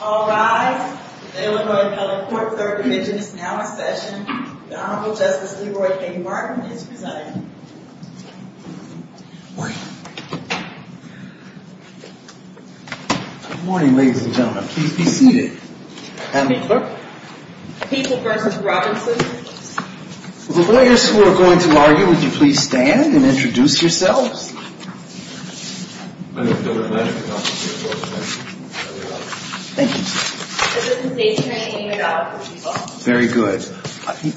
All rise. The Delaware County Court Third Division is now in session. The Honorable Justice Leroy King-Martin is presenting. Good morning, ladies and gentlemen. Please be seated. I'm a clerk. People v. Robinson. The lawyers who are going to argue, would you please stand and introduce yourselves? Thank you, sir. This is the Delaware County Court of Appeals. Very good.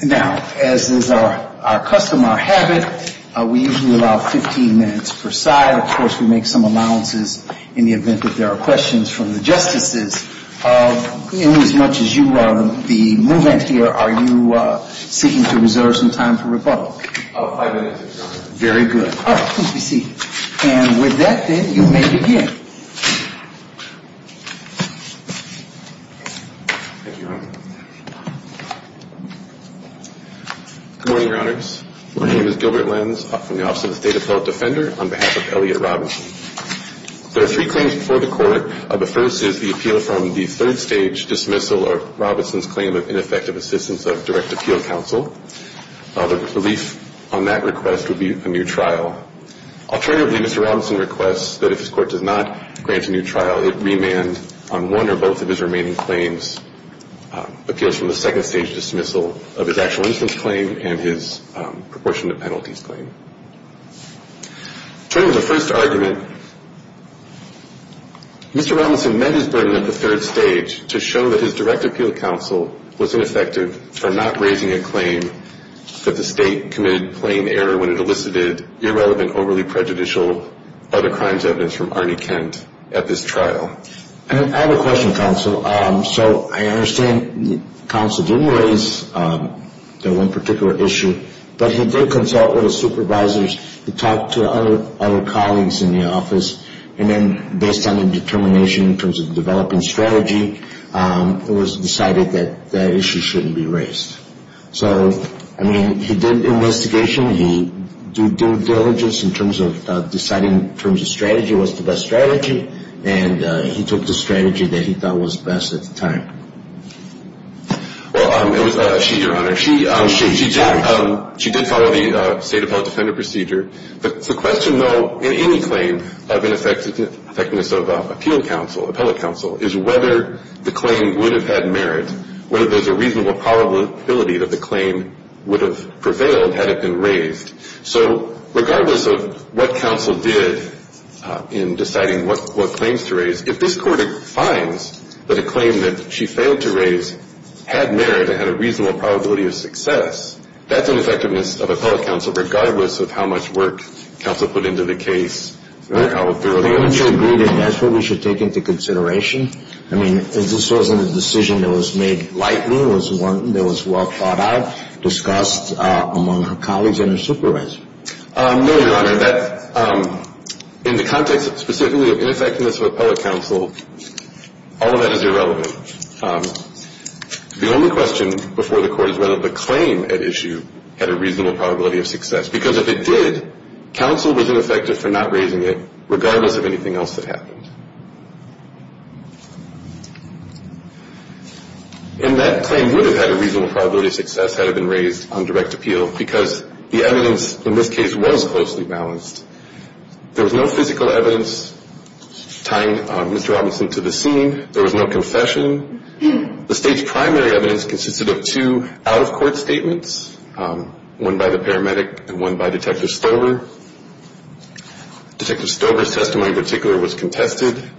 Now, as is our custom, our habit, we usually allow 15 minutes per side. Of course, we make some allowances in the event that there are questions from the justices. As much as you are the movement here, are you seeking to reserve some time for rebuttal? Five minutes, sir. Very good. Please be seated. And with that, then, you may begin. Thank you, Your Honor. Good morning, Your Honors. My name is Gilbert Lenz. I'm from the Office of the State Appellate Defender on behalf of Elliot Robinson. There are three claims before the Court. The first is the appeal from the third stage dismissal of Robinson's claim of ineffective assistance of direct appeal counsel. The relief on that request would be a new trial. Alternatively, Mr. Robinson requests that if his court does not grant a new trial, it remand on one or both of his remaining claims appeals from the second stage dismissal of his actual instance claim and his proportionate penalties claim. Turning to the first argument, Mr. Robinson met his burden at the third stage to show that his direct appeal counsel was ineffective for not raising a claim that the state committed plain error when it elicited irrelevant, overly prejudicial, other crimes evidence from Arnie Kent at this trial. I have a question, counsel. So I understand counsel didn't raise that one particular issue, but he did consult with his supervisors. He talked to other colleagues in the office, and then based on the determination in terms of developing strategy, it was decided that that issue shouldn't be raised. So, I mean, he did investigation. He did due diligence in terms of deciding in terms of strategy, what's the best strategy, and he took the strategy that he thought was best at the time. Well, it was she, Your Honor. She did follow the State Appellate Defender Procedure. The question, though, in any claim of ineffectiveness of appeal counsel, appellate counsel, is whether the claim would have had merit, whether there's a reasonable probability that the claim would have prevailed had it been raised. So regardless of what counsel did in deciding what claims to raise, if this Court finds that a claim that she failed to raise had merit and had a reasonable probability of success, that's ineffectiveness of appellate counsel, regardless of how much work counsel put into the case. I think we should agree that that's what we should take into consideration. I mean, this wasn't a decision that was made lightly. It was one that was well thought out, discussed among her colleagues and her supervisors. No, Your Honor. In the context specifically of ineffectiveness of appellate counsel, all of that is irrelevant. The only question before the Court is whether the claim at issue had a reasonable probability of success. Because if it did, counsel was ineffective for not raising it, regardless of anything else that happened. And that claim would have had a reasonable probability of success had it been raised on direct appeal, because the evidence in this case was closely balanced. There was no physical evidence tying Mr. Robinson to the scene. There was no confession. The State's primary evidence consisted of two out-of-court statements, one by the paramedic and one by Detective Stover. Detective Stover's testimony in particular was contested.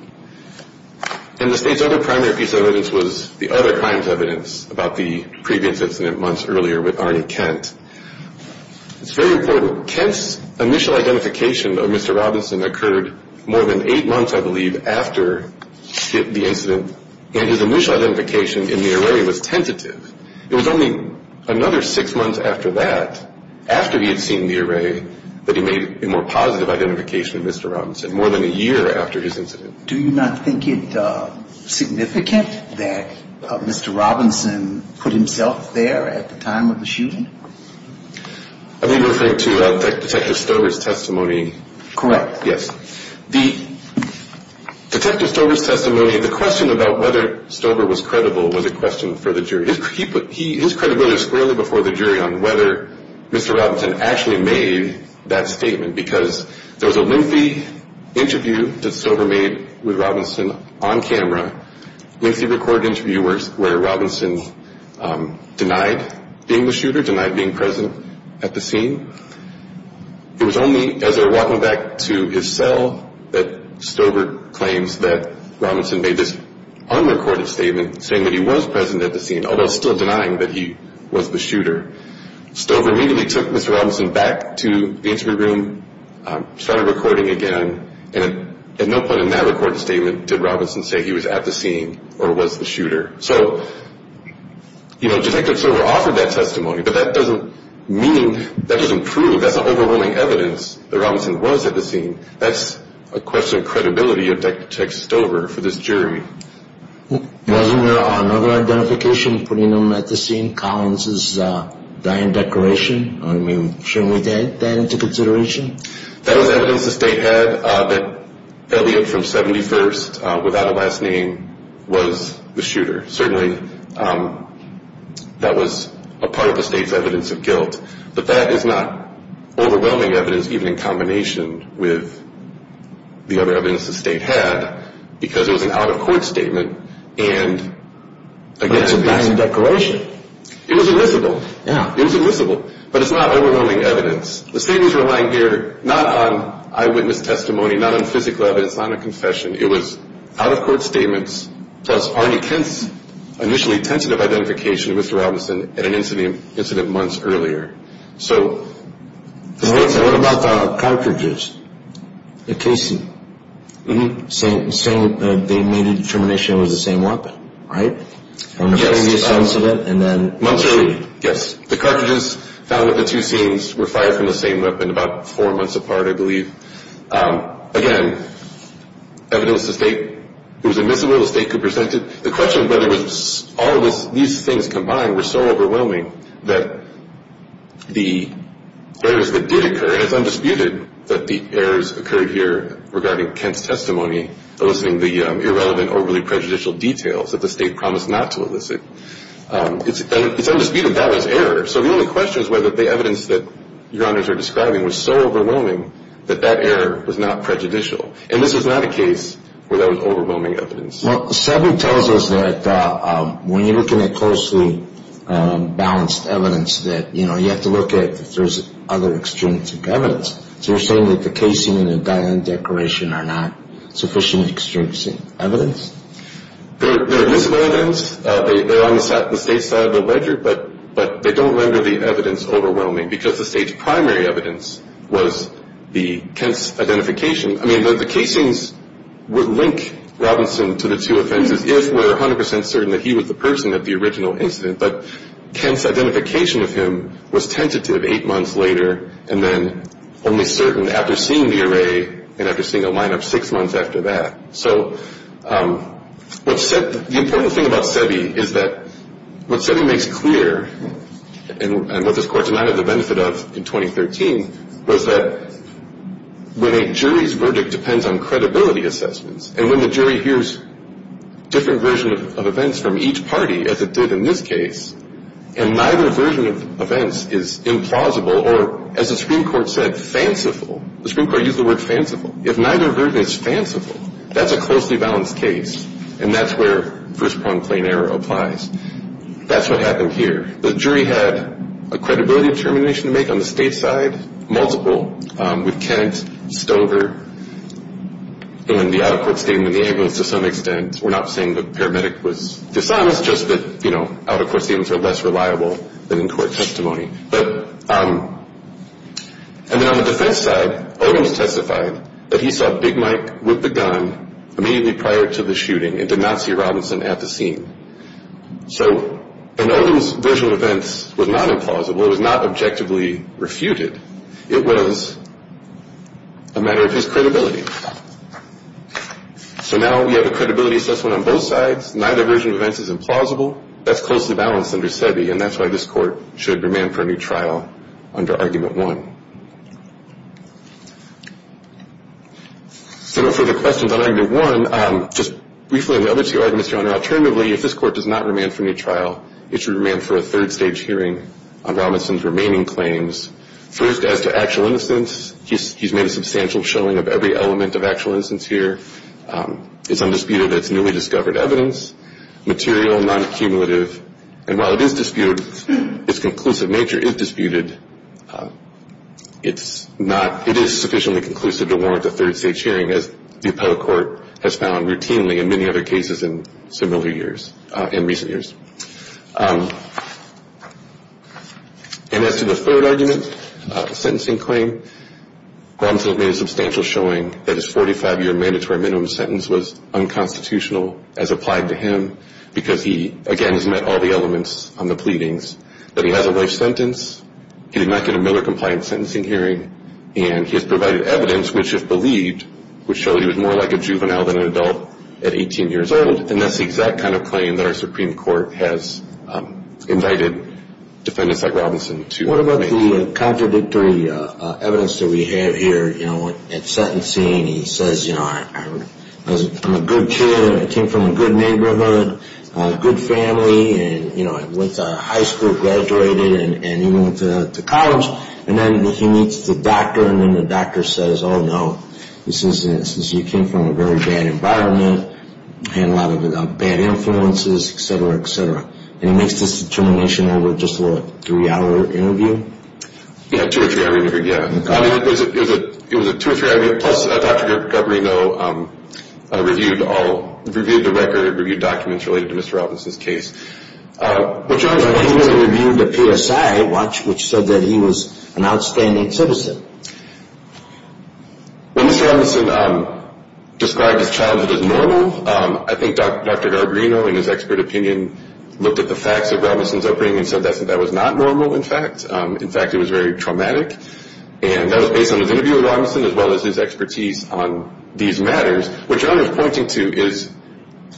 And the State's other primary piece of evidence was the other crime's evidence, about the previous incident months earlier with Arnie Kent. It's very important. So Kent's initial identification of Mr. Robinson occurred more than eight months, I believe, after the incident. And his initial identification in the array was tentative. It was only another six months after that, after he had seen the array, that he made a more positive identification of Mr. Robinson, more than a year after his incident. Do you not think it significant that Mr. Robinson put himself there at the time of the shooting? Are you referring to Detective Stover's testimony? Correct. Yes. Detective Stover's testimony, the question about whether Stover was credible was a question for the jury. His credibility was squarely before the jury on whether Mr. Robinson actually made that statement, because there was a lengthy interview that Stover made with Robinson on camera, lengthy recorded interview where Robinson denied being the shooter, denied being present at the scene. It was only as they were walking back to his cell that Stover claims that Robinson made this unrecorded statement, saying that he was present at the scene, although still denying that he was the shooter. Stover immediately took Mr. Robinson back to the interview room, started recording again, and at no point in that recorded statement did Robinson say he was at the scene or was the shooter. So, you know, Detective Stover offered that testimony, but that doesn't mean, that doesn't prove, that's not overwhelming evidence that Robinson was at the scene. That's a question of credibility of Detective Stover for this jury. Wasn't there another identification putting him at the scene, Collins' dying decoration? I mean, shouldn't we take that into consideration? That was evidence the State had that Elliot from 71st, without a last name, was the shooter. Certainly, that was a part of the State's evidence of guilt. But that is not overwhelming evidence, even in combination with the other evidence the State had, because it was an out-of-court statement and against the State. But that's a dying declaration. It was admissible. Yeah. It was admissible, but it's not overwhelming evidence. The State was relying here not on eyewitness testimony, not on physical evidence, not on a confession. It was out-of-court statements, plus Arnie Kent's initially tentative identification of Mr. Robinson at an incident months earlier. So the State said... What about the cartridges, the casing? Mm-hmm. Saying they made a determination it was the same weapon, right? Yes. From the previous incident and then... Months earlier, yes. The cartridges found that the two scenes were fired from the same weapon about four months apart, I believe. Again, evidence the State... It was admissible. The State could present it. The question of whether it was... All of these things combined were so overwhelming that the errors that did occur, and it's undisputed that the errors occurred here regarding Kent's testimony, eliciting the irrelevant, overly prejudicial details that the State promised not to elicit. It's undisputed that was error. So the only question is whether the evidence that Your Honors are describing was so overwhelming that that error was not prejudicial. And this was not a case where that was overwhelming evidence. Well, Sabu tells us that when you're looking at closely balanced evidence that, you know, you have to look at if there's other extrinsic evidence. So you're saying that the casing and the diamond decoration are not sufficient extrinsic evidence? They're admissible evidence. They're on the State's side of the ledger, but they don't render the evidence overwhelming because the State's primary evidence was the Kent's identification. I mean, the casings would link Robinson to the two offenses if we're 100 percent certain that he was the person at the original incident, but Kent's identification of him was tentative eight months later and then only certain after seeing the array and after seeing the lineup six months after that. So the important thing about Sebi is that what Sebi makes clear and what this Court did not have the benefit of in 2013 was that when a jury's verdict depends on credibility assessments and when the jury hears different versions of events from each party, as it did in this case, and neither version of events is implausible or, as the Supreme Court said, fanciful. The Supreme Court used the word fanciful. If neither version is fanciful, that's a closely balanced case, and that's where first-pronged plain error applies. That's what happened here. The jury had a credibility determination to make on the State's side, multiple, with Kent, Stover, and the out-of-court statement in the ambulance to some extent. We're not saying the paramedic was to some. It's just that, you know, out-of-court statements are less reliable than in-court testimony. And then on the defense side, Odin testified that he saw Big Mike with the gun immediately prior to the shooting and did not see Robinson at the scene. So Odin's version of events was not implausible. It was not objectively refuted. It was a matter of his credibility. So now we have a credibility assessment on both sides. Neither version of events is implausible. That's closely balanced under SEBI, and that's why this Court should remand for a new trial under Argument 1. So no further questions on Argument 1. Just briefly on the other two arguments, Your Honor, alternatively, if this Court does not remand for a new trial, it should remand for a third-stage hearing on Robinson's remaining claims. First, as to actual innocence, he's made a substantial showing of every element of actual innocence here. It's undisputed that it's newly discovered evidence. It's material, non-accumulative, and while it is disputed, its conclusive nature is disputed, it is sufficiently conclusive to warrant a third-stage hearing, as the appellate court has found routinely in many other cases in similar years, in recent years. And as to the third argument, sentencing claim, Robinson made a substantial showing that his 45-year mandatory minimum sentence was unconstitutional as applied to him because he, again, has met all the elements on the pleadings, that he has a life sentence, he did not get a Miller-compliant sentencing hearing, and he has provided evidence which, if believed, would show that he was more like a juvenile than an adult at 18 years old. And that's the exact kind of claim that our Supreme Court has invited defendants like Robinson to make. The contradictory evidence that we have here, you know, at sentencing, he says, you know, I'm a good kid, I came from a good neighborhood, good family, and, you know, I went to high school, graduated, and he went to college, and then he meets the doctor, and then the doctor says, oh, no, this is, you came from a very bad environment, had a lot of bad influences, et cetera, et cetera. And he makes this determination over just, what, a three-hour interview? Yeah, two or three hour interview, yeah. It was a two or three hour interview, plus Dr. Garbarino reviewed the record, reviewed documents related to Mr. Robinson's case. But he also reviewed the PSI watch, which said that he was an outstanding citizen. When Mr. Robinson described his childhood as normal, I think Dr. Garbarino, in his expert opinion, looked at the facts of Robinson's upbringing and said that that was not normal, in fact. In fact, it was very traumatic. And that was based on his interview with Robinson as well as his expertise on these matters, which I was pointing to is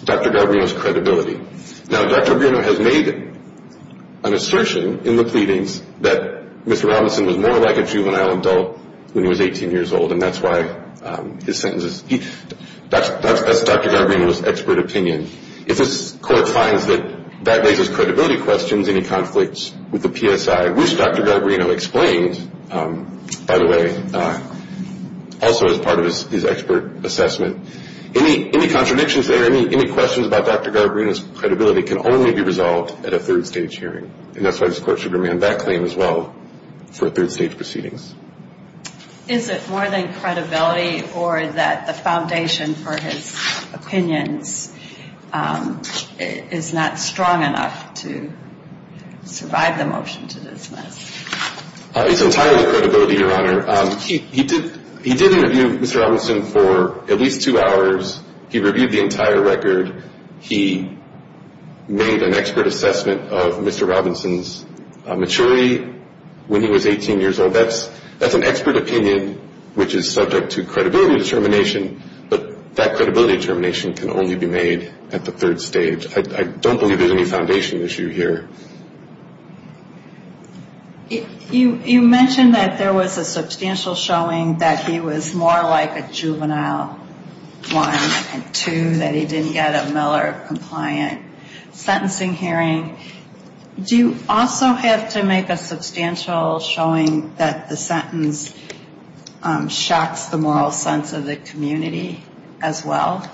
Dr. Garbarino's credibility. Now, Dr. Garbarino has made an assertion in the pleadings that Mr. Robinson was more like a juvenile adult when he was 18 years old, and that's why his sentence is, that's Dr. Garbarino's expert opinion. If this Court finds that that raises credibility questions, any conflicts with the PSI, which Dr. Garbarino explained, by the way, also as part of his expert assessment, any contradictions there, any questions about Dr. Garbarino's credibility can only be resolved at a third-stage hearing. And that's why this Court should demand that claim as well for third-stage proceedings. Is it more than credibility or that the foundation for his opinions is not strong enough to survive the motion to dismiss? It's entirely credibility, Your Honor. He did interview Mr. Robinson for at least two hours. He reviewed the entire record. He made an expert assessment of Mr. Robinson's maturity when he was 18 years old. That's an expert opinion which is subject to credibility determination, but that credibility determination can only be made at the third stage. I don't believe there's any foundation issue here. You mentioned that there was a substantial showing that he was more like a juvenile, one, and two, that he didn't get a Miller-compliant sentencing hearing. Do you also have to make a substantial showing that the sentence shocks the moral sense of the community as well?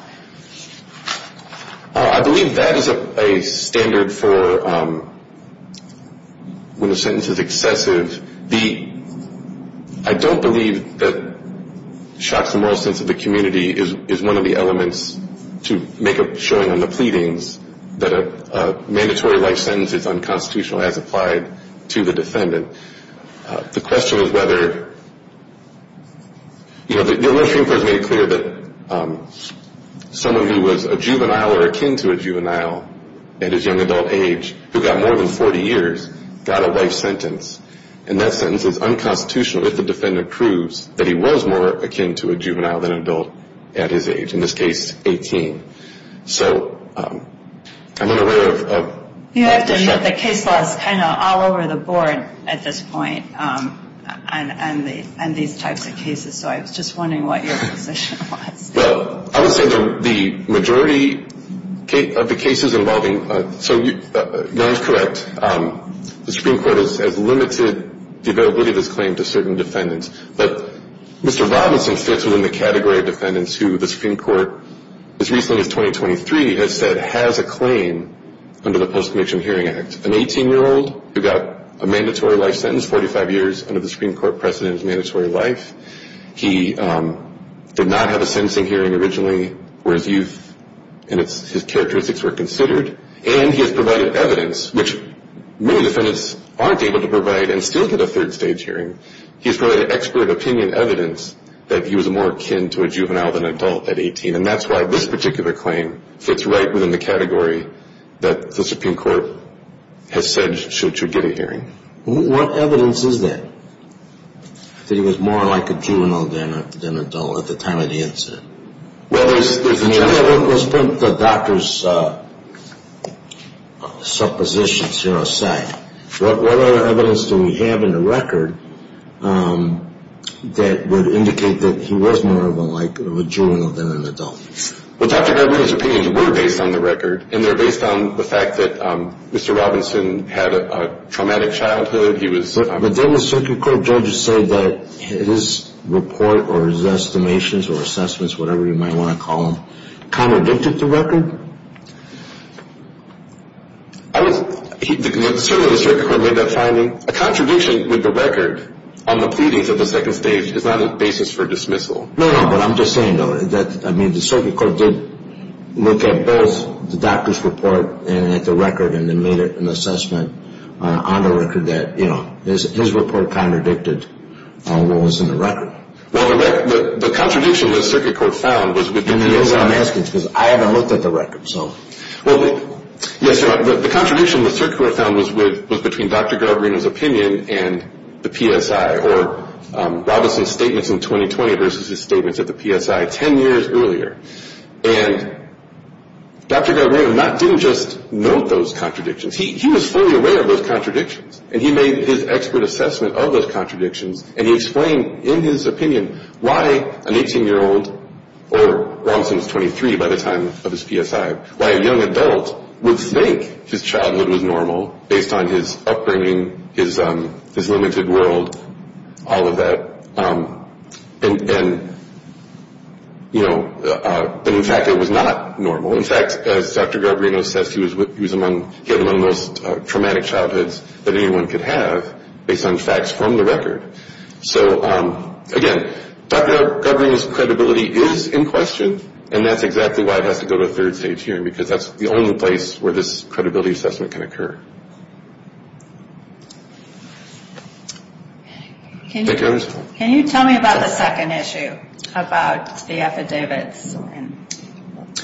I believe that is a standard for when a sentence is excessive. I don't believe that shocks the moral sense of the community is one of the elements to make a showing on the pleadings that a mandatory life sentence is unconstitutional as applied to the defendant. The question is whether, you know, the illustrating court has made it clear that someone who was a juvenile or akin to a juvenile at his young adult age who got more than 40 years got a life sentence, and that sentence is unconstitutional if the defendant proves that he was more akin to a juvenile than an adult at his age, in this case, 18. So I'm unaware of the shock. You have to note that case law is kind of all over the board at this point on these types of cases, so I was just wondering what your position was. Well, I would say that the majority of the cases involving – so you're correct. The Supreme Court has limited the availability of this claim to certain defendants, but Mr. Robinson fits within the category of defendants who the Supreme Court, as recently as 2023, has said has a claim under the Post-Conviction Hearing Act. An 18-year-old who got a mandatory life sentence, 45 years under the Supreme Court precedent of mandatory life. He did not have a sentencing hearing originally where his youth and his characteristics were considered, and he has provided evidence, which many defendants aren't able to provide and still get a third-stage hearing. He has provided expert opinion evidence that he was more akin to a juvenile than an adult at 18, and that's why this particular claim fits right within the category that the Supreme Court has said should you get a hearing. What evidence is that, that he was more like a juvenile than an adult at the time of the incident? Well, there's – Let's put the doctor's suppositions here aside. What other evidence do we have in the record that would indicate that he was more of a juvenile than an adult? Well, Dr. Gerber, his opinions were based on the record, and they're based on the fact that Mr. Robinson had a traumatic childhood. But didn't the circuit court judges say that his report or his estimations or assessments, whatever you might want to call them, contradicted the record? Certainly the circuit court made that finding. A contradiction with the record on the pleadings of the second stage is not a basis for dismissal. No, no, but I'm just saying, though, that the circuit court did look at both the doctor's report and at the record and made it an assessment on the record that, you know, his report contradicted what was in the record. Well, the contradiction the circuit court found was within the PSI. And the reason I'm asking is because I haven't looked at the record, so. Well, yes, the contradiction the circuit court found was between Dr. Gerberino's opinion and the PSI or Robinson's statements in 2020 versus his statements at the PSI 10 years earlier. And Dr. Gerberino didn't just note those contradictions. He was fully aware of those contradictions, and he made his expert assessment of those contradictions, and he explained in his opinion why an 18-year-old or Robinson's 23 by the time of his PSI, why a young adult would think his childhood was normal based on his upbringing, his limited world, all of that. And, you know, in fact, it was not normal. In fact, as Dr. Gerberino says, he had one of the most traumatic childhoods that anyone could have based on facts from the record. So, again, Dr. Gerberino's credibility is in question, and that's exactly why it has to go to a third stage hearing, because that's the only place where this credibility assessment can occur. Thank you. Can you tell me about the second issue about the affidavits and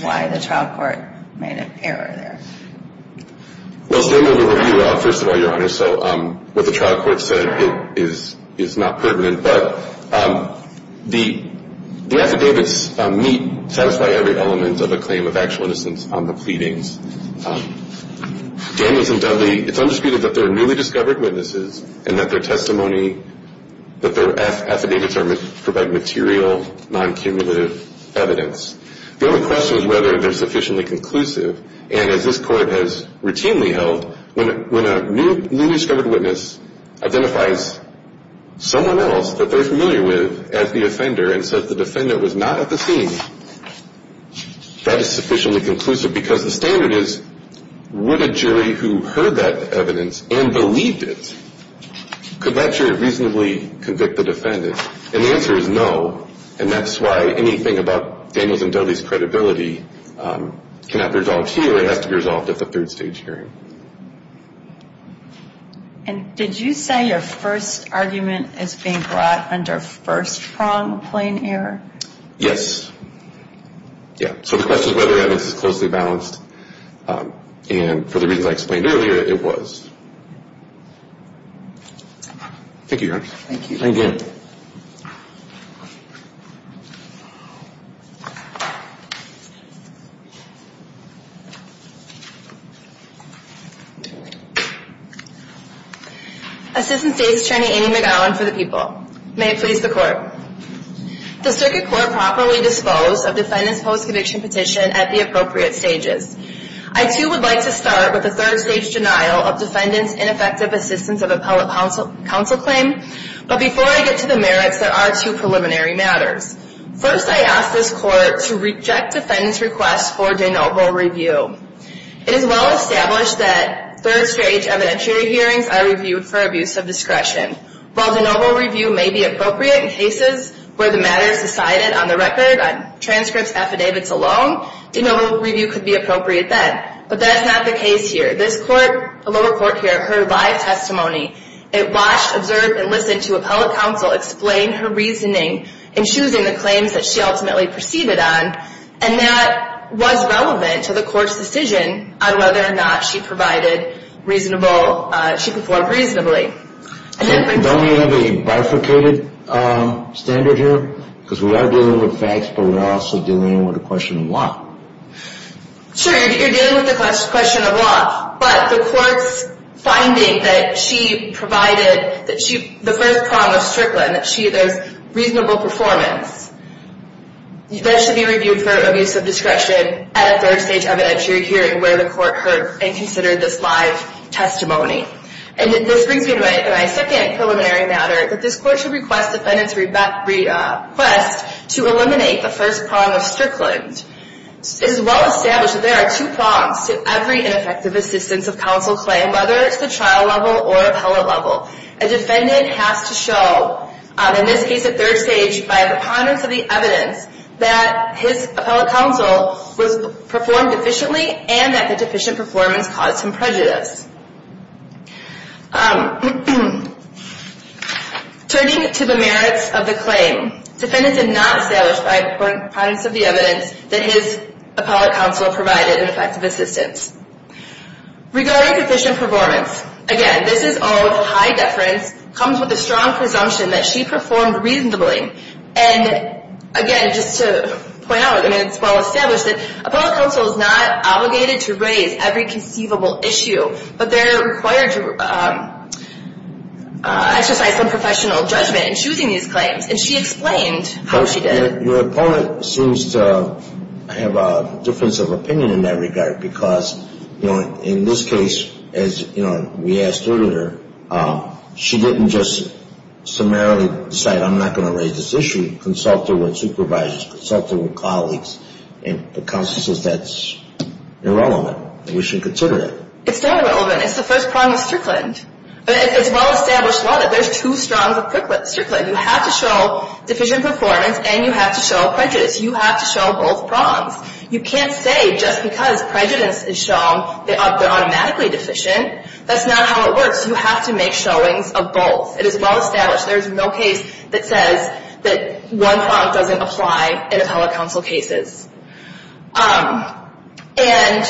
why the trial court made an error there? Well, Sam will review it. First of all, Your Honor, so what the trial court said is not pertinent, but the affidavits meet, satisfy every element of a claim of actual innocence on the pleadings. Daniels and Dudley, it's undisputed that they're newly discovered witnesses and that their testimony, that their affidavits provide material, non-cumulative evidence. The only question is whether they're sufficiently conclusive, and as this court has routinely held, when a newly discovered witness identifies someone else that they're familiar with as the offender and says the defendant was not at the scene, that is sufficiently conclusive because the standard is would a jury who heard that evidence and believed it, could that jury reasonably convict the defendant? And the answer is no, and that's why anything about Daniels and Dudley's credibility cannot be resolved here. It has to be resolved at the third stage hearing. And did you say your first argument is being brought under first prong plain error? Yes. Yeah, so the question is whether evidence is closely balanced, and for the reasons I explained earlier, it was. Thank you, Your Honor. Thank you. Thank you. Assistant State's Attorney Amy McGowan for the People. May it please the Court. Does Circuit Court properly dispose of defendant's post-conviction petition at the appropriate stages? I, too, would like to start with the third-stage denial of defendant's ineffective assistance of appellate counsel claim, but before I get to the merits, there are two preliminary matters. First, I ask this Court to reject defendant's request for de novo review. It is well established that third-stage evidentiary hearings are reviewed for abuse of discretion. While de novo review may be appropriate in cases where the matter is decided on the record, on transcripts, affidavits alone, de novo review could be appropriate then. But that's not the case here. This Court, the lower Court here, heard live testimony. It watched, observed, and listened to appellate counsel explain her reasoning in choosing the claims that she ultimately proceeded on, and that was relevant to the Court's decision on whether or not she provided reasonable, she performed reasonably. Don't we have a bifurcated standard here? Because we are dealing with facts, but we're also dealing with the question of law. Sure, you're dealing with the question of law, but the Court's finding that she provided the first prong of Strickland, that there's reasonable performance, that should be reviewed for abuse of discretion at a third-stage evidentiary hearing where the Court heard and considered this live testimony. And this brings me to my second preliminary matter, that this Court should request defendants' request to eliminate the first prong of Strickland. It is well established that there are two prongs to every ineffective assistance of counsel claim, whether it's the trial level or appellate level. A defendant has to show, in this case a third stage, by the ponderance of the evidence that his appellate counsel performed efficiently and that the deficient performance caused him prejudice. Turning to the merits of the claim, defendants did not establish by the ponderance of the evidence that his appellate counsel provided an effective assistance. Regarding deficient performance, again, this is all with high deference, comes with a strong presumption that she performed reasonably. And again, just to point out, and it's well established, that appellate counsel is not obligated to raise every conceivable issue, but they're required to exercise some professional judgment in choosing these claims. And she explained how she did it. Your opponent seems to have a difference of opinion in that regard, because in this case, as we asked her to do, she didn't just summarily decide, I'm not going to raise this issue, but she consulted with supervisors, consulted with colleagues, and the counsel says that's irrelevant and we shouldn't consider it. It's not irrelevant. It's the first prong of Strickland. It's well established law that there's two strongs of Strickland. You have to show deficient performance and you have to show prejudice. You have to show both prongs. You can't say just because prejudice is shown, they're automatically deficient. That's not how it works. You have to make showings of both. It is well established. There's no case that says that one prong doesn't apply in appellate counsel cases. And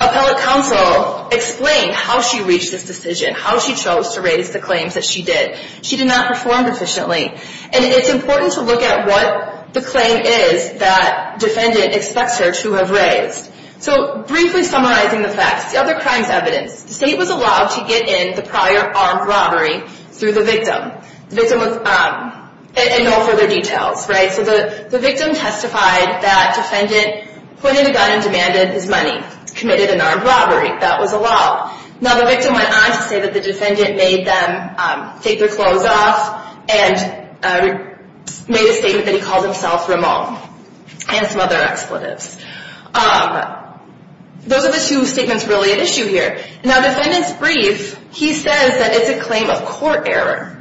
appellate counsel explained how she reached this decision, how she chose to raise the claims that she did. She did not perform proficiently. And it's important to look at what the claim is that defendant expects her to have raised. So briefly summarizing the facts, the other crimes evidenced, the state was allowed to get in the prior armed robbery through the victim, and no further details. So the victim testified that defendant pointed a gun and demanded his money, committed an armed robbery. That was allowed. Now the victim went on to say that the defendant made them take their clothes off and made a statement that he called himself Ramon and some other expletives. Those are the two statements really at issue here. Now defendant's brief, he says that it's a claim of court error.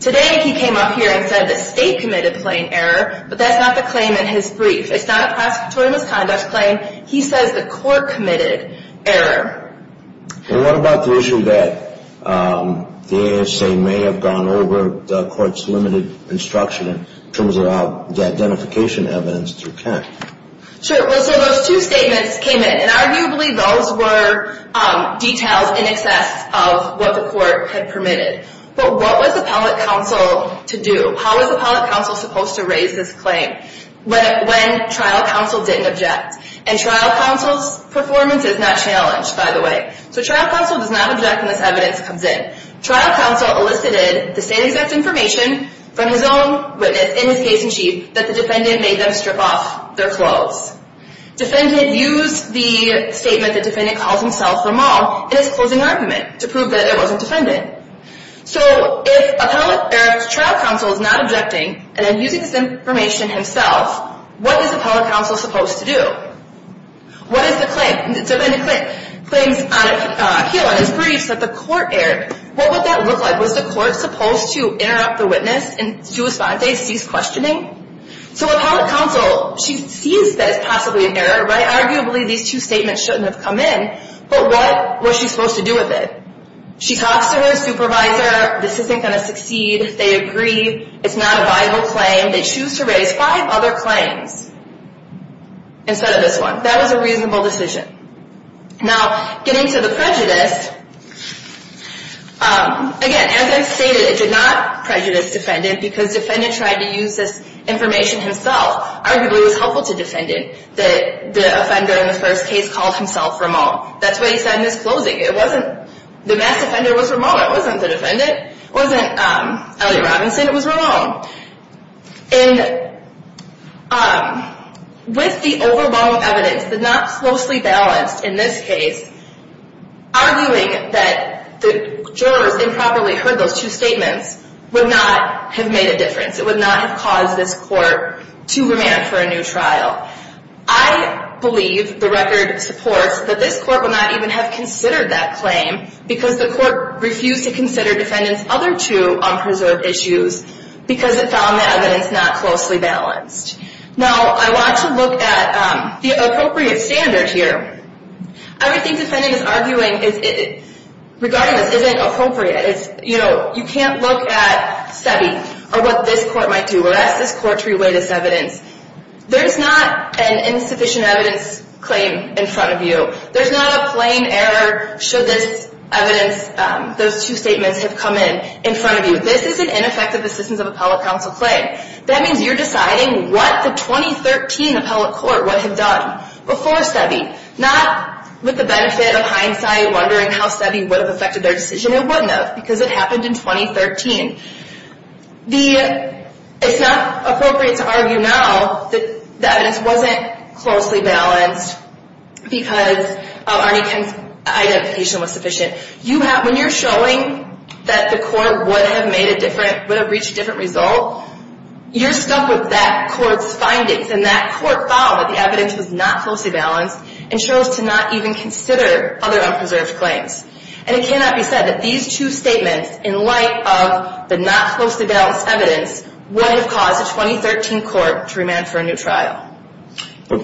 Today he came up here and said the state committed plain error, but that's not the claim in his brief. It's not a prosecutorial misconduct claim. He says the court committed error. And what about the issue that the ASA may have gone over the court's limited instruction in terms of the identification evidence to account? Sure, well, so those two statements came in. And arguably those were details in excess of what the court had permitted. But what was appellate counsel to do? How was appellate counsel supposed to raise this claim when trial counsel didn't object? And trial counsel's performance is not challenged, by the way. So trial counsel does not object when this evidence comes in. Trial counsel elicited the state-exact information from his own witness in his case in chief that the defendant made them strip off their clothes. Defendant used the statement that defendant calls himself a mall in his closing argument to prove that it wasn't defendant. So if trial counsel is not objecting and then using this information himself, what is appellate counsel supposed to do? What is the claim? Defendant claims here on his briefs that the court erred. What would that look like? Was the court supposed to interrupt the witness and do a sponte, cease questioning? So appellate counsel, she sees that it's possibly an error, right? Arguably these two statements shouldn't have come in. But what was she supposed to do with it? She talks to her supervisor. This isn't going to succeed. They agree. It's not a viable claim. They choose to raise five other claims instead of this one. That was a reasonable decision. Now getting to the prejudice, again, as I stated, it did not prejudice defendant because defendant tried to use this information himself. Arguably it was helpful to defendant that the offender in the first case called himself Ramon. That's what he said in his closing. It wasn't the mass offender was Ramon. It wasn't the defendant. It wasn't Elliot Robinson. It was Ramon. And with the overwhelming evidence, but not closely balanced in this case, arguing that the jurors improperly heard those two statements would not have made a difference. It would not have caused this court to remand for a new trial. I believe the record supports that this court would not even have considered that claim because the court refused to consider defendant's other two unpreserved issues because it found the evidence not closely balanced. Now I want to look at the appropriate standard here. I would think defendant is arguing regarding this isn't appropriate. You can't look at SEBI or what this court might do or ask this court to re-weigh this evidence. There's not an insufficient evidence claim in front of you. There's not a plain error should this evidence, those two statements have come in in front of you. This is an ineffective assistance of appellate counsel claim. That means you're deciding what the 2013 appellate court would have done before SEBI. Not with the benefit of hindsight wondering how SEBI would have affected their decision. It wouldn't have because it happened in 2013. It's not appropriate to argue now that the evidence wasn't closely balanced because of Arnie Kim's identification was sufficient. When you're showing that the court would have reached a different result, you're stuck with that court's findings and that court found that the evidence was not closely balanced and chose to not even consider other unpreserved claims. And it cannot be said that these two statements in light of the not closely balanced evidence would have caused the 2013 court to remand for a new trial.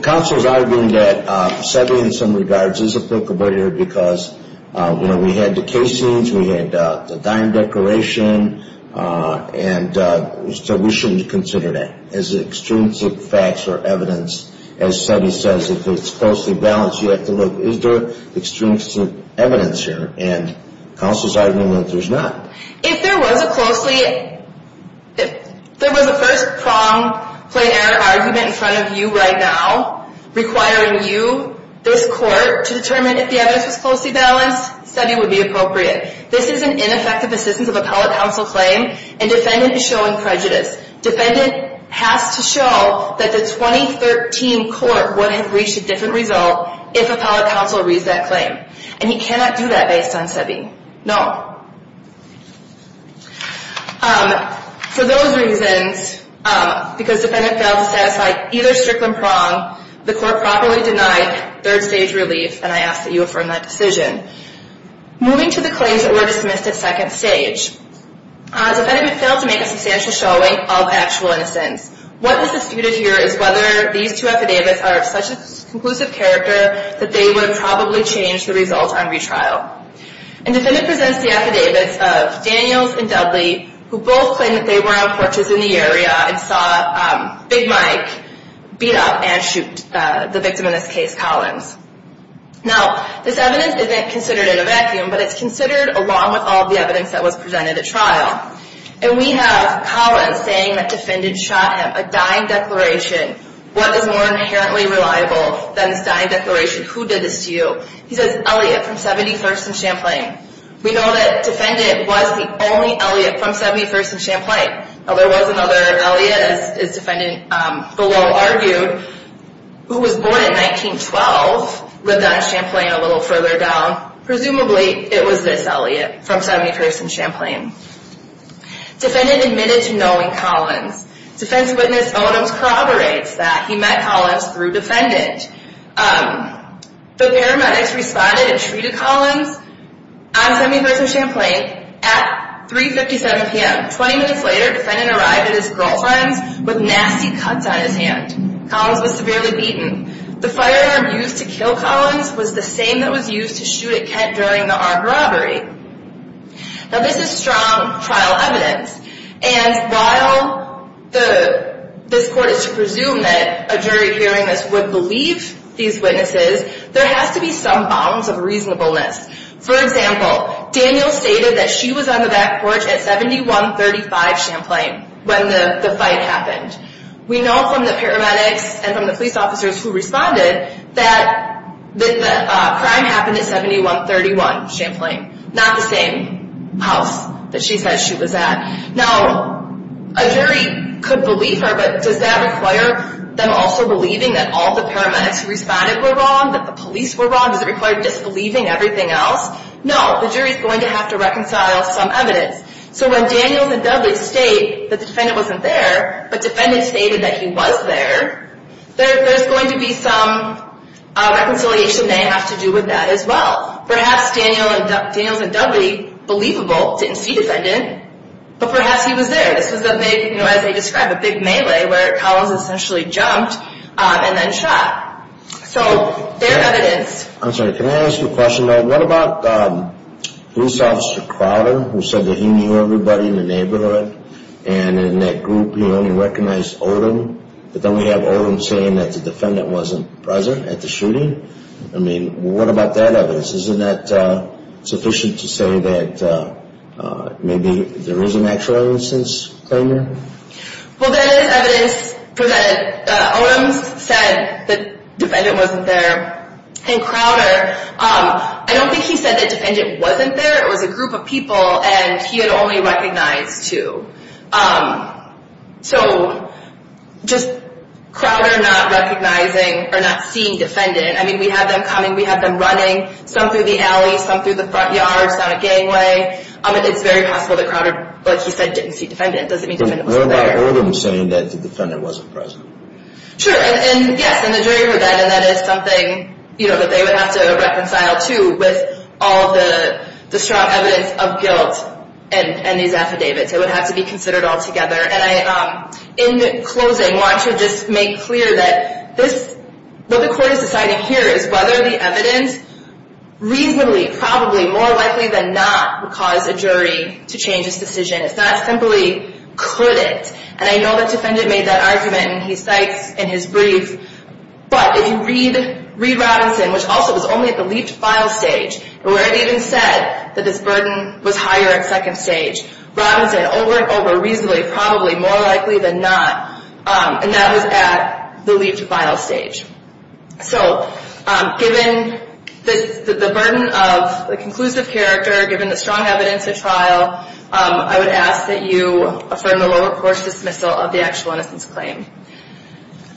Counsel is arguing that SEBI in some regards is appropriate because we had the case scenes, we had the dime declaration, and so we shouldn't consider that as extrinsic facts or evidence. As SEBI says, if it's closely balanced, you have to look, is there extrinsic evidence here? And counsel is arguing that there's not. If there was a first-prong plain error argument in front of you right now requiring you, this court, to determine if the evidence was closely balanced, SEBI would be appropriate. This is an ineffective assistance of appellate counsel claim and defendant is showing prejudice. Defendant has to show that the 2013 court would have reached a different result if appellate counsel reads that claim. And he cannot do that based on SEBI. No. For those reasons, because defendant failed to satisfy either strict or prong, the court properly denied third-stage relief and I ask that you affirm that decision. Moving to the claims that were dismissed at second stage. Defendant failed to make a substantial showing of actual innocence. What is disputed here is whether these two affidavits are of such a conclusive character that they would probably change the result on retrial. And defendant presents the affidavits of Daniels and Dudley, who both claim that they were on porches in the area and saw Big Mike beat up and shoot the victim in this case, Collins. Now, this evidence isn't considered in a vacuum, but it's considered along with all the evidence that was presented at trial. And we have Collins saying that defendant shot him, a dying declaration. What is more inherently reliable than this dying declaration? Who did this to you? He says, Elliot from 71st and Champlain. We know that defendant was the only Elliot from 71st and Champlain. Now, there was another Elliot, as defendant below argued, who was born in 1912, lived on Champlain a little further down. Presumably, it was this Elliot from 71st and Champlain. Defendant admitted to knowing Collins. Defense witness Odoms corroborates that he met Collins through defendant. The paramedics responded and treated Collins on 71st and Champlain at 3.57 p.m. Twenty minutes later, defendant arrived at his girlfriend's with nasty cuts on his hand. Collins was severely beaten. The firearm used to kill Collins was the same that was used to shoot at Kent during the armed robbery. Now, this is strong trial evidence. And while this court is to presume that a jury hearing this would believe these witnesses, there has to be some bounds of reasonableness. For example, Daniel stated that she was on the back porch at 7135 Champlain when the fight happened. We know from the paramedics and from the police officers who responded that the crime happened at 7131 Champlain, not the same house that she said she was at. Now, a jury could believe her, but does that require them also believing that all the paramedics who responded were wrong, that the police were wrong? Does it require disbelieving everything else? No, the jury is going to have to reconcile some evidence. So when Daniels and Dudley state the defendant wasn't there, but defendant stated that he was there, there's going to be some reconciliation they have to do with that as well. Perhaps Daniels and Dudley, believable, didn't see defendant, but perhaps he was there. This was a big, you know, as they describe, a big melee where Collins essentially jumped and then shot. So their evidence. I'm sorry. Can I ask you a question? What about police officer Crowder who said that he knew everybody in the neighborhood and in that group he only recognized Odom, but then we have Odom saying that the defendant wasn't present at the shooting? I mean, what about that evidence? Isn't that sufficient to say that maybe there is an actual instance claim here? Well, there is evidence presented. Odom said the defendant wasn't there. And Crowder, I don't think he said the defendant wasn't there. It was a group of people, and he had only recognized two. So just Crowder not recognizing or not seeing defendant. I mean, we have them coming. We have them running, some through the alley, some through the front yards, down a gangway. It's very possible that Crowder, like he said, didn't see defendant. Doesn't mean defendant wasn't there. But what about Odom saying that the defendant wasn't present? Sure, and yes, and the jury heard that, and that is something that they would have to reconcile too with all of the strong evidence of guilt and these affidavits. It would have to be considered all together. And in closing, I want to just make clear that what the court is deciding here is whether the evidence reasonably, probably more likely than not, would cause a jury to change its decision. It's not simply could it. And I know the defendant made that argument, and he cites in his brief. But if you read Robinson, which also was only at the leafed file stage, where it even said that this burden was higher at second stage, Robinson, over and over, reasonably, probably more likely than not, and that was at the leafed file stage. So given the burden of the conclusive character, given the strong evidence of trial, I would ask that you affirm the lower-course dismissal of the actual innocence claim.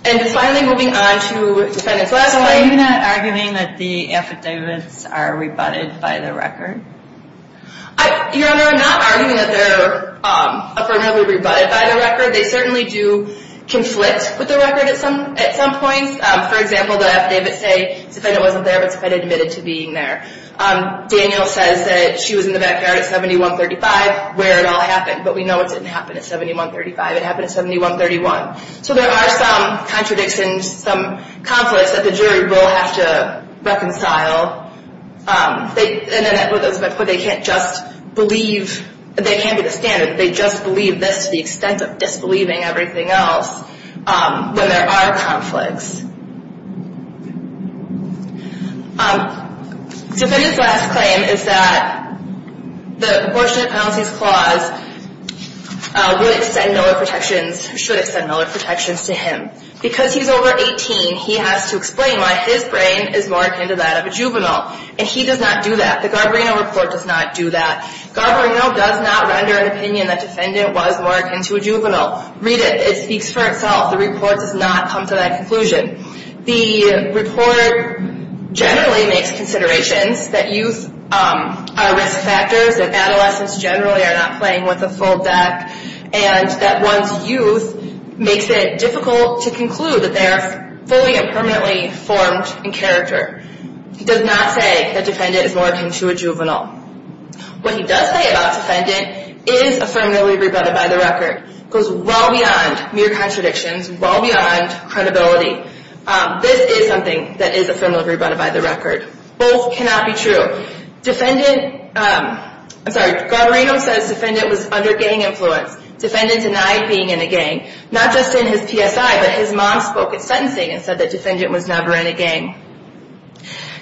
And finally, moving on to defendant's last claim. So are you not arguing that the affidavits are rebutted by the record? Your Honor, I'm not arguing that they're affirmatively rebutted by the record. They certainly do conflict with the record at some points. For example, the affidavits say the defendant wasn't there, but the defendant admitted to being there. Daniel says that she was in the backyard at 7135 where it all happened, but we know it didn't happen at 7135. It happened at 7131. So there are some contradictions, some conflicts that the jury will have to reconcile. And as I put, they can't just believe, they can't be the standard. They just believe this to the extent of disbelieving everything else when there are conflicts. Defendant's last claim is that the proportionate penalties clause would extend Miller protections, should extend Miller protections to him. Because he's over 18, he has to explain why his brain is more akin to that of a juvenile, and he does not do that. The Garbarino report does not do that. Garbarino does not render an opinion that defendant was more akin to a juvenile. Read it. It speaks for itself. The report does not come to that conclusion. The report generally makes considerations that youth are risk factors, that adolescents generally are not playing with a full deck, and that once youth makes it difficult to conclude that they are fully and permanently formed in character. It does not say that defendant is more akin to a juvenile. What he does say about defendant is affirmatively rebutted by the record. It goes well beyond mere contradictions, well beyond credibility. This is something that is affirmatively rebutted by the record. Both cannot be true. Garbarino says defendant was under gang influence. Defendant denied being in a gang, not just in his PSI, but his mom spoke at sentencing and said that defendant was never in a gang.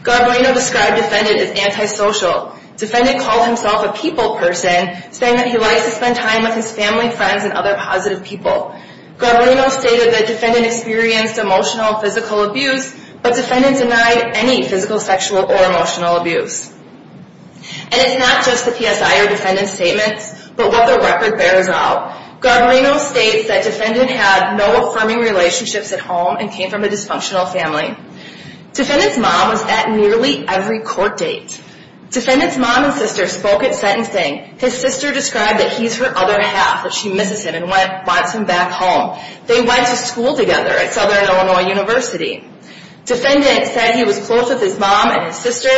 Garbarino described defendant as antisocial. Defendant called himself a people person, saying that he likes to spend time with his family, friends, and other positive people. Garbarino stated that defendant experienced emotional and physical abuse, but defendant denied any physical, sexual, or emotional abuse. And it's not just the PSI or defendant's statements, but what the record bears out. Garbarino states that defendant had no affirming relationships at home and came from a dysfunctional family. Defendant's mom was at nearly every court date. Defendant's mom and sister spoke at sentencing. His sister described that he's her other half, that she misses him and wants him back home. They went to school together at Southern Illinois University. Defendant said he was close with his mom and his sister,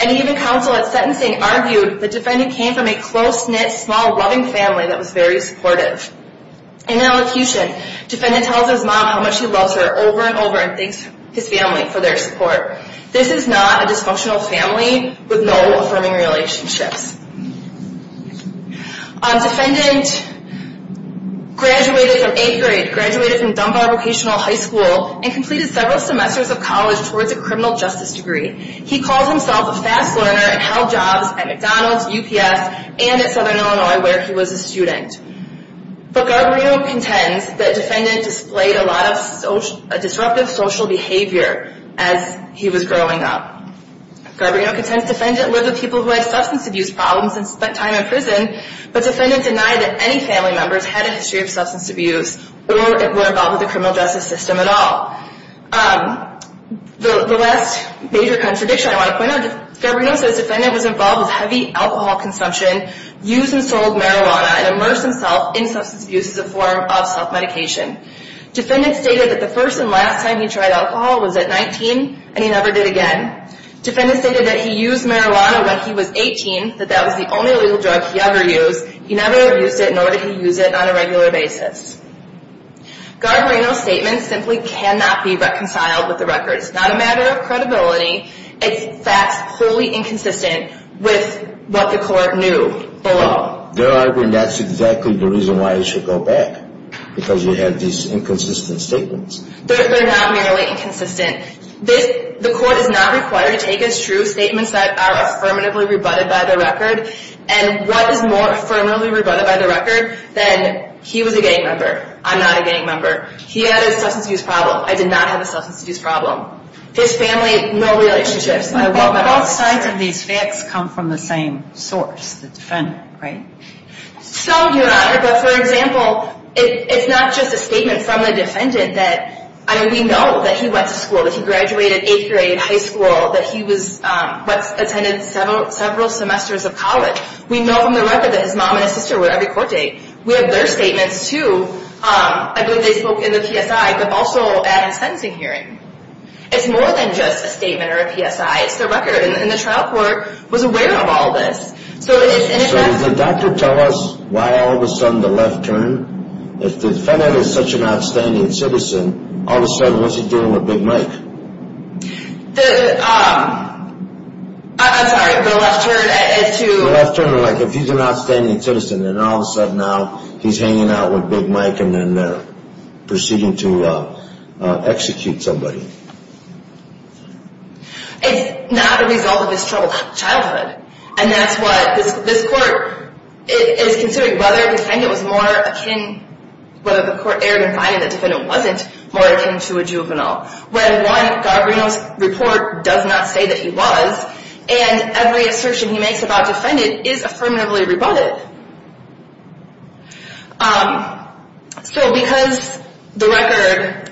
and even counsel at sentencing argued that defendant came from a close-knit, small, loving family that was very supportive. In an elocution, defendant tells his mom how much he loves her over and over and thanks his family for their support. This is not a dysfunctional family with no affirming relationships. Defendant graduated from 8th grade, graduated from Dunbar Vocational High School, and completed several semesters of college towards a criminal justice degree. He calls himself a fast learner and held jobs at McDonald's, UPS, and at Southern Illinois where he was a student. But Garbarino contends that defendant displayed a lot of disruptive social behavior as he was growing up. Garbarino contends defendant lived with people who had substance abuse problems and spent time in prison, but defendant denied that any family members had a history of substance abuse or were involved with the criminal justice system at all. The last major contradiction I want to point out, Garbarino says defendant was involved with heavy alcohol consumption, used and sold marijuana, and immersed himself in substance abuse as a form of self-medication. Defendant stated that the first and last time he tried alcohol was at 19, and he never did again. Defendant stated that he used marijuana when he was 18, that that was the only legal drug he ever used. He never abused it, nor did he use it on a regular basis. Garbarino's statements simply cannot be reconciled with the records. It's not a matter of credibility. It's facts wholly inconsistent with what the court knew below. There are, and that's exactly the reason why it should go back, because you have these inconsistent statements. They're not merely inconsistent. The court is not required to take as true statements that are affirmatively rebutted by the record, and what is more affirmatively rebutted by the record than he was a gang member. I'm not a gang member. He had a substance abuse problem. I did not have a substance abuse problem. His family, no relationships. Both sides of these facts come from the same source, the defendant, right? Some do not, but for example, it's not just a statement from the defendant that, I mean, we know that he went to school, that he graduated eighth grade, high school, that he attended several semesters of college. We know from the record that his mom and his sister were every court date. We have their statements, too. I believe they spoke in the PSI, but also at a sentencing hearing. It's more than just a statement or a PSI. It's the record, and the trial court was aware of all this. So does the doctor tell us why all of a sudden the left turned? If the defendant is such an outstanding citizen, all of a sudden, what's he doing with Big Mike? The, um, I'm sorry. The left turned to... The left turned to, like, if he's an outstanding citizen, and all of a sudden now he's hanging out with Big Mike and then they're proceeding to execute somebody. It's not a result of his troubled childhood, and that's what this court is considering, whether the defendant was more akin, whether the court erred in finding the defendant wasn't more akin to a juvenile. Where one, Gargrino's report does not say that he was, and every assertion he makes about defendant is affirmatively rebutted. Um, so because the record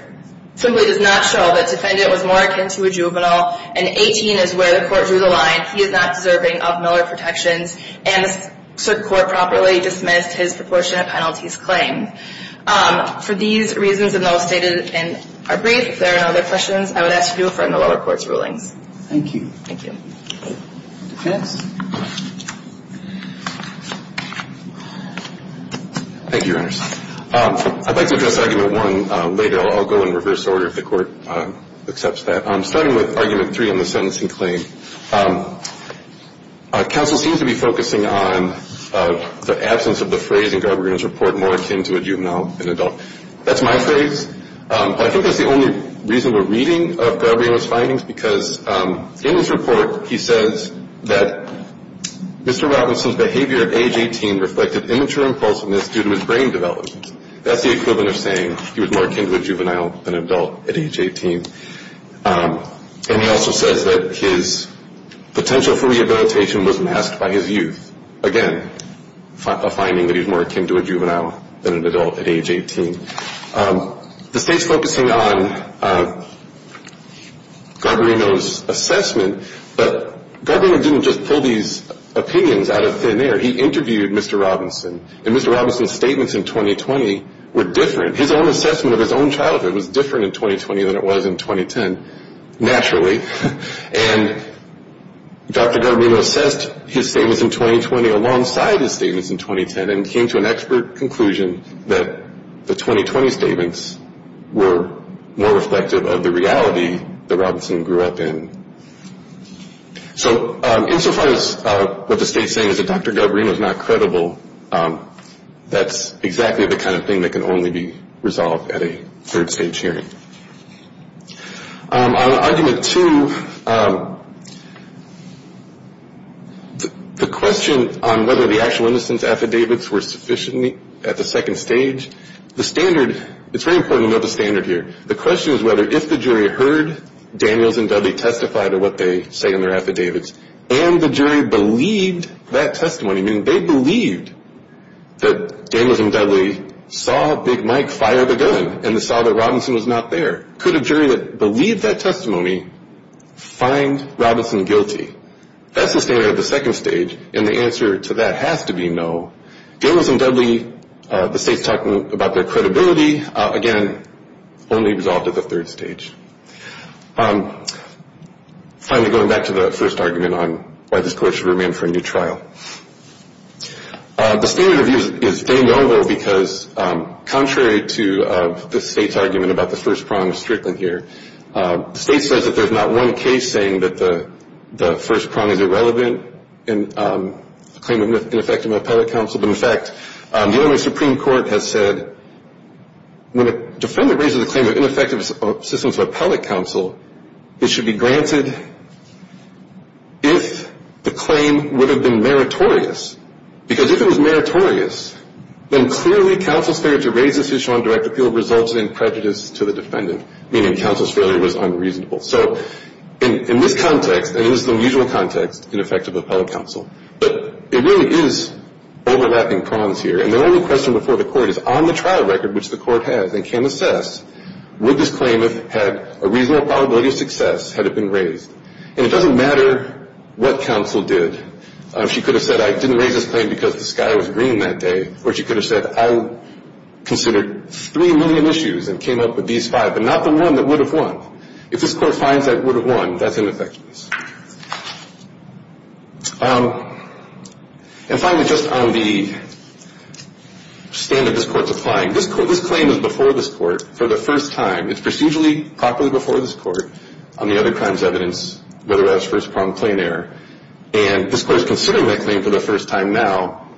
simply does not show that defendant was more akin to a juvenile, and 18 is where the court drew the line, he is not deserving of Miller protections, and the circuit court properly dismissed his proportionate penalties claim. Um, for these reasons, and those stated in our brief, if there are no other questions, I would ask you to refer to the lower court's rulings. Thank you. Thank you. Defense? Thank you, Your Honor. Um, I'd like to address Argument 1 later. I'll go in reverse order if the court accepts that. Um, starting with Argument 3 on the sentencing claim. Um, our counsel seems to be focusing on the absence of the phrase in Gargrino's report, more akin to a juvenile than adult. That's my phrase. Um, I think that's the only reasonable reading of Gargrino's findings, because in his report he says that Mr. Robinson's behavior at age 18 reflected immature impulsiveness due to his brain development. That's the equivalent of saying he was more akin to a juvenile than adult at age 18. Um, and he also says that his potential for rehabilitation was masked by his youth. Again, a finding that he was more akin to a juvenile than an adult at age 18. Um, the State's focusing on, um, Gargrino's assessment, but Gargrino didn't just pull these opinions out of thin air. He interviewed Mr. Robinson, and Mr. Robinson's statements in 2020 were different. His own assessment of his own childhood was different in 2020 than it was in 2010, naturally. And Dr. Gargrino assessed his statements in 2020 alongside his statements in 2010 and came to an expert conclusion that the 2020 statements were more reflective of the reality that Robinson grew up in. So, um, insofar as what the State's saying is that Dr. Gargrino's not credible, um, that's exactly the kind of thing that can only be resolved at a third stage hearing. Um, on argument two, um, the question on whether the actual innocence affidavits were sufficient at the second stage, the standard, it's very important to know the standard here. The question is whether if the jury heard Daniels and Dudley testify to what they say in their affidavits and the jury believed that testimony, meaning they believed that Daniels and Dudley saw Big Mike fire the gun and saw that Robinson was not there, could a jury that believed that testimony find Robinson guilty? That's the standard at the second stage, and the answer to that has to be no. Daniels and Dudley, uh, the State's talking about their credibility. Uh, again, only resolved at the third stage. Um, finally, going back to the first argument on why this court should remand for a new trial. Uh, the standard review is very noble because, um, contrary to the State's argument about the first prong of Strickland here, uh, the State says that there's not one case saying that the first prong is irrelevant in, um, Uh, the Illinois Supreme Court has said when a defendant raises a claim of ineffective assistance to appellate counsel, it should be granted if the claim would have been meritorious, because if it was meritorious, then clearly counsel's failure to raise this issue on direct appeal results in prejudice to the defendant, meaning counsel's failure was unreasonable. So in this context, and it is the usual context, ineffective appellate counsel, but it really is overlapping prongs here, and the only question before the court is on the trial record, which the court has and can assess, would this claim have had a reasonable probability of success had it been raised? And it doesn't matter what counsel did. Uh, she could have said, I didn't raise this claim because the sky was green that day, or she could have said, I considered three million issues and came up with these five, but not the one that would have won. If this court finds that it would have won, that's ineffectuous. And finally, just on the standard this court's applying, this claim is before this court for the first time. It's procedurally properly before this court on the other crimes evidence, whether or not it's first pronged claim error. And this court is considering that claim for the first time now,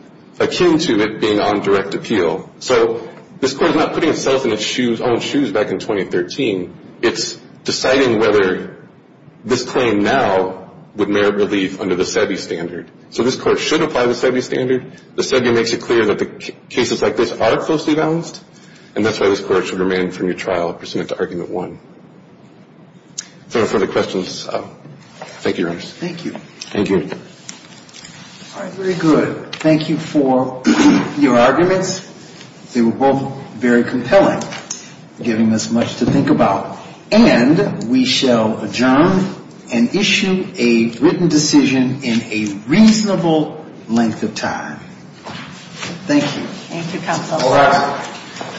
akin to it being on direct appeal. So this court is not putting itself in its own shoes back in 2013. It's deciding whether this claim now would merit relief under the SEBI standard. So this court should apply the SEBI standard. The SEBI makes it clear that the cases like this are closely balanced, and that's why this court should remain from your trial pursuant to argument one. If there are no further questions, thank you, Your Honor. Thank you. Thank you. All right. Very good. Thank you for your arguments. They were both very compelling, giving us much to think about. And we shall adjourn and issue a written decision in a reasonable length of time. Thank you. Thank you, Counsel. All right.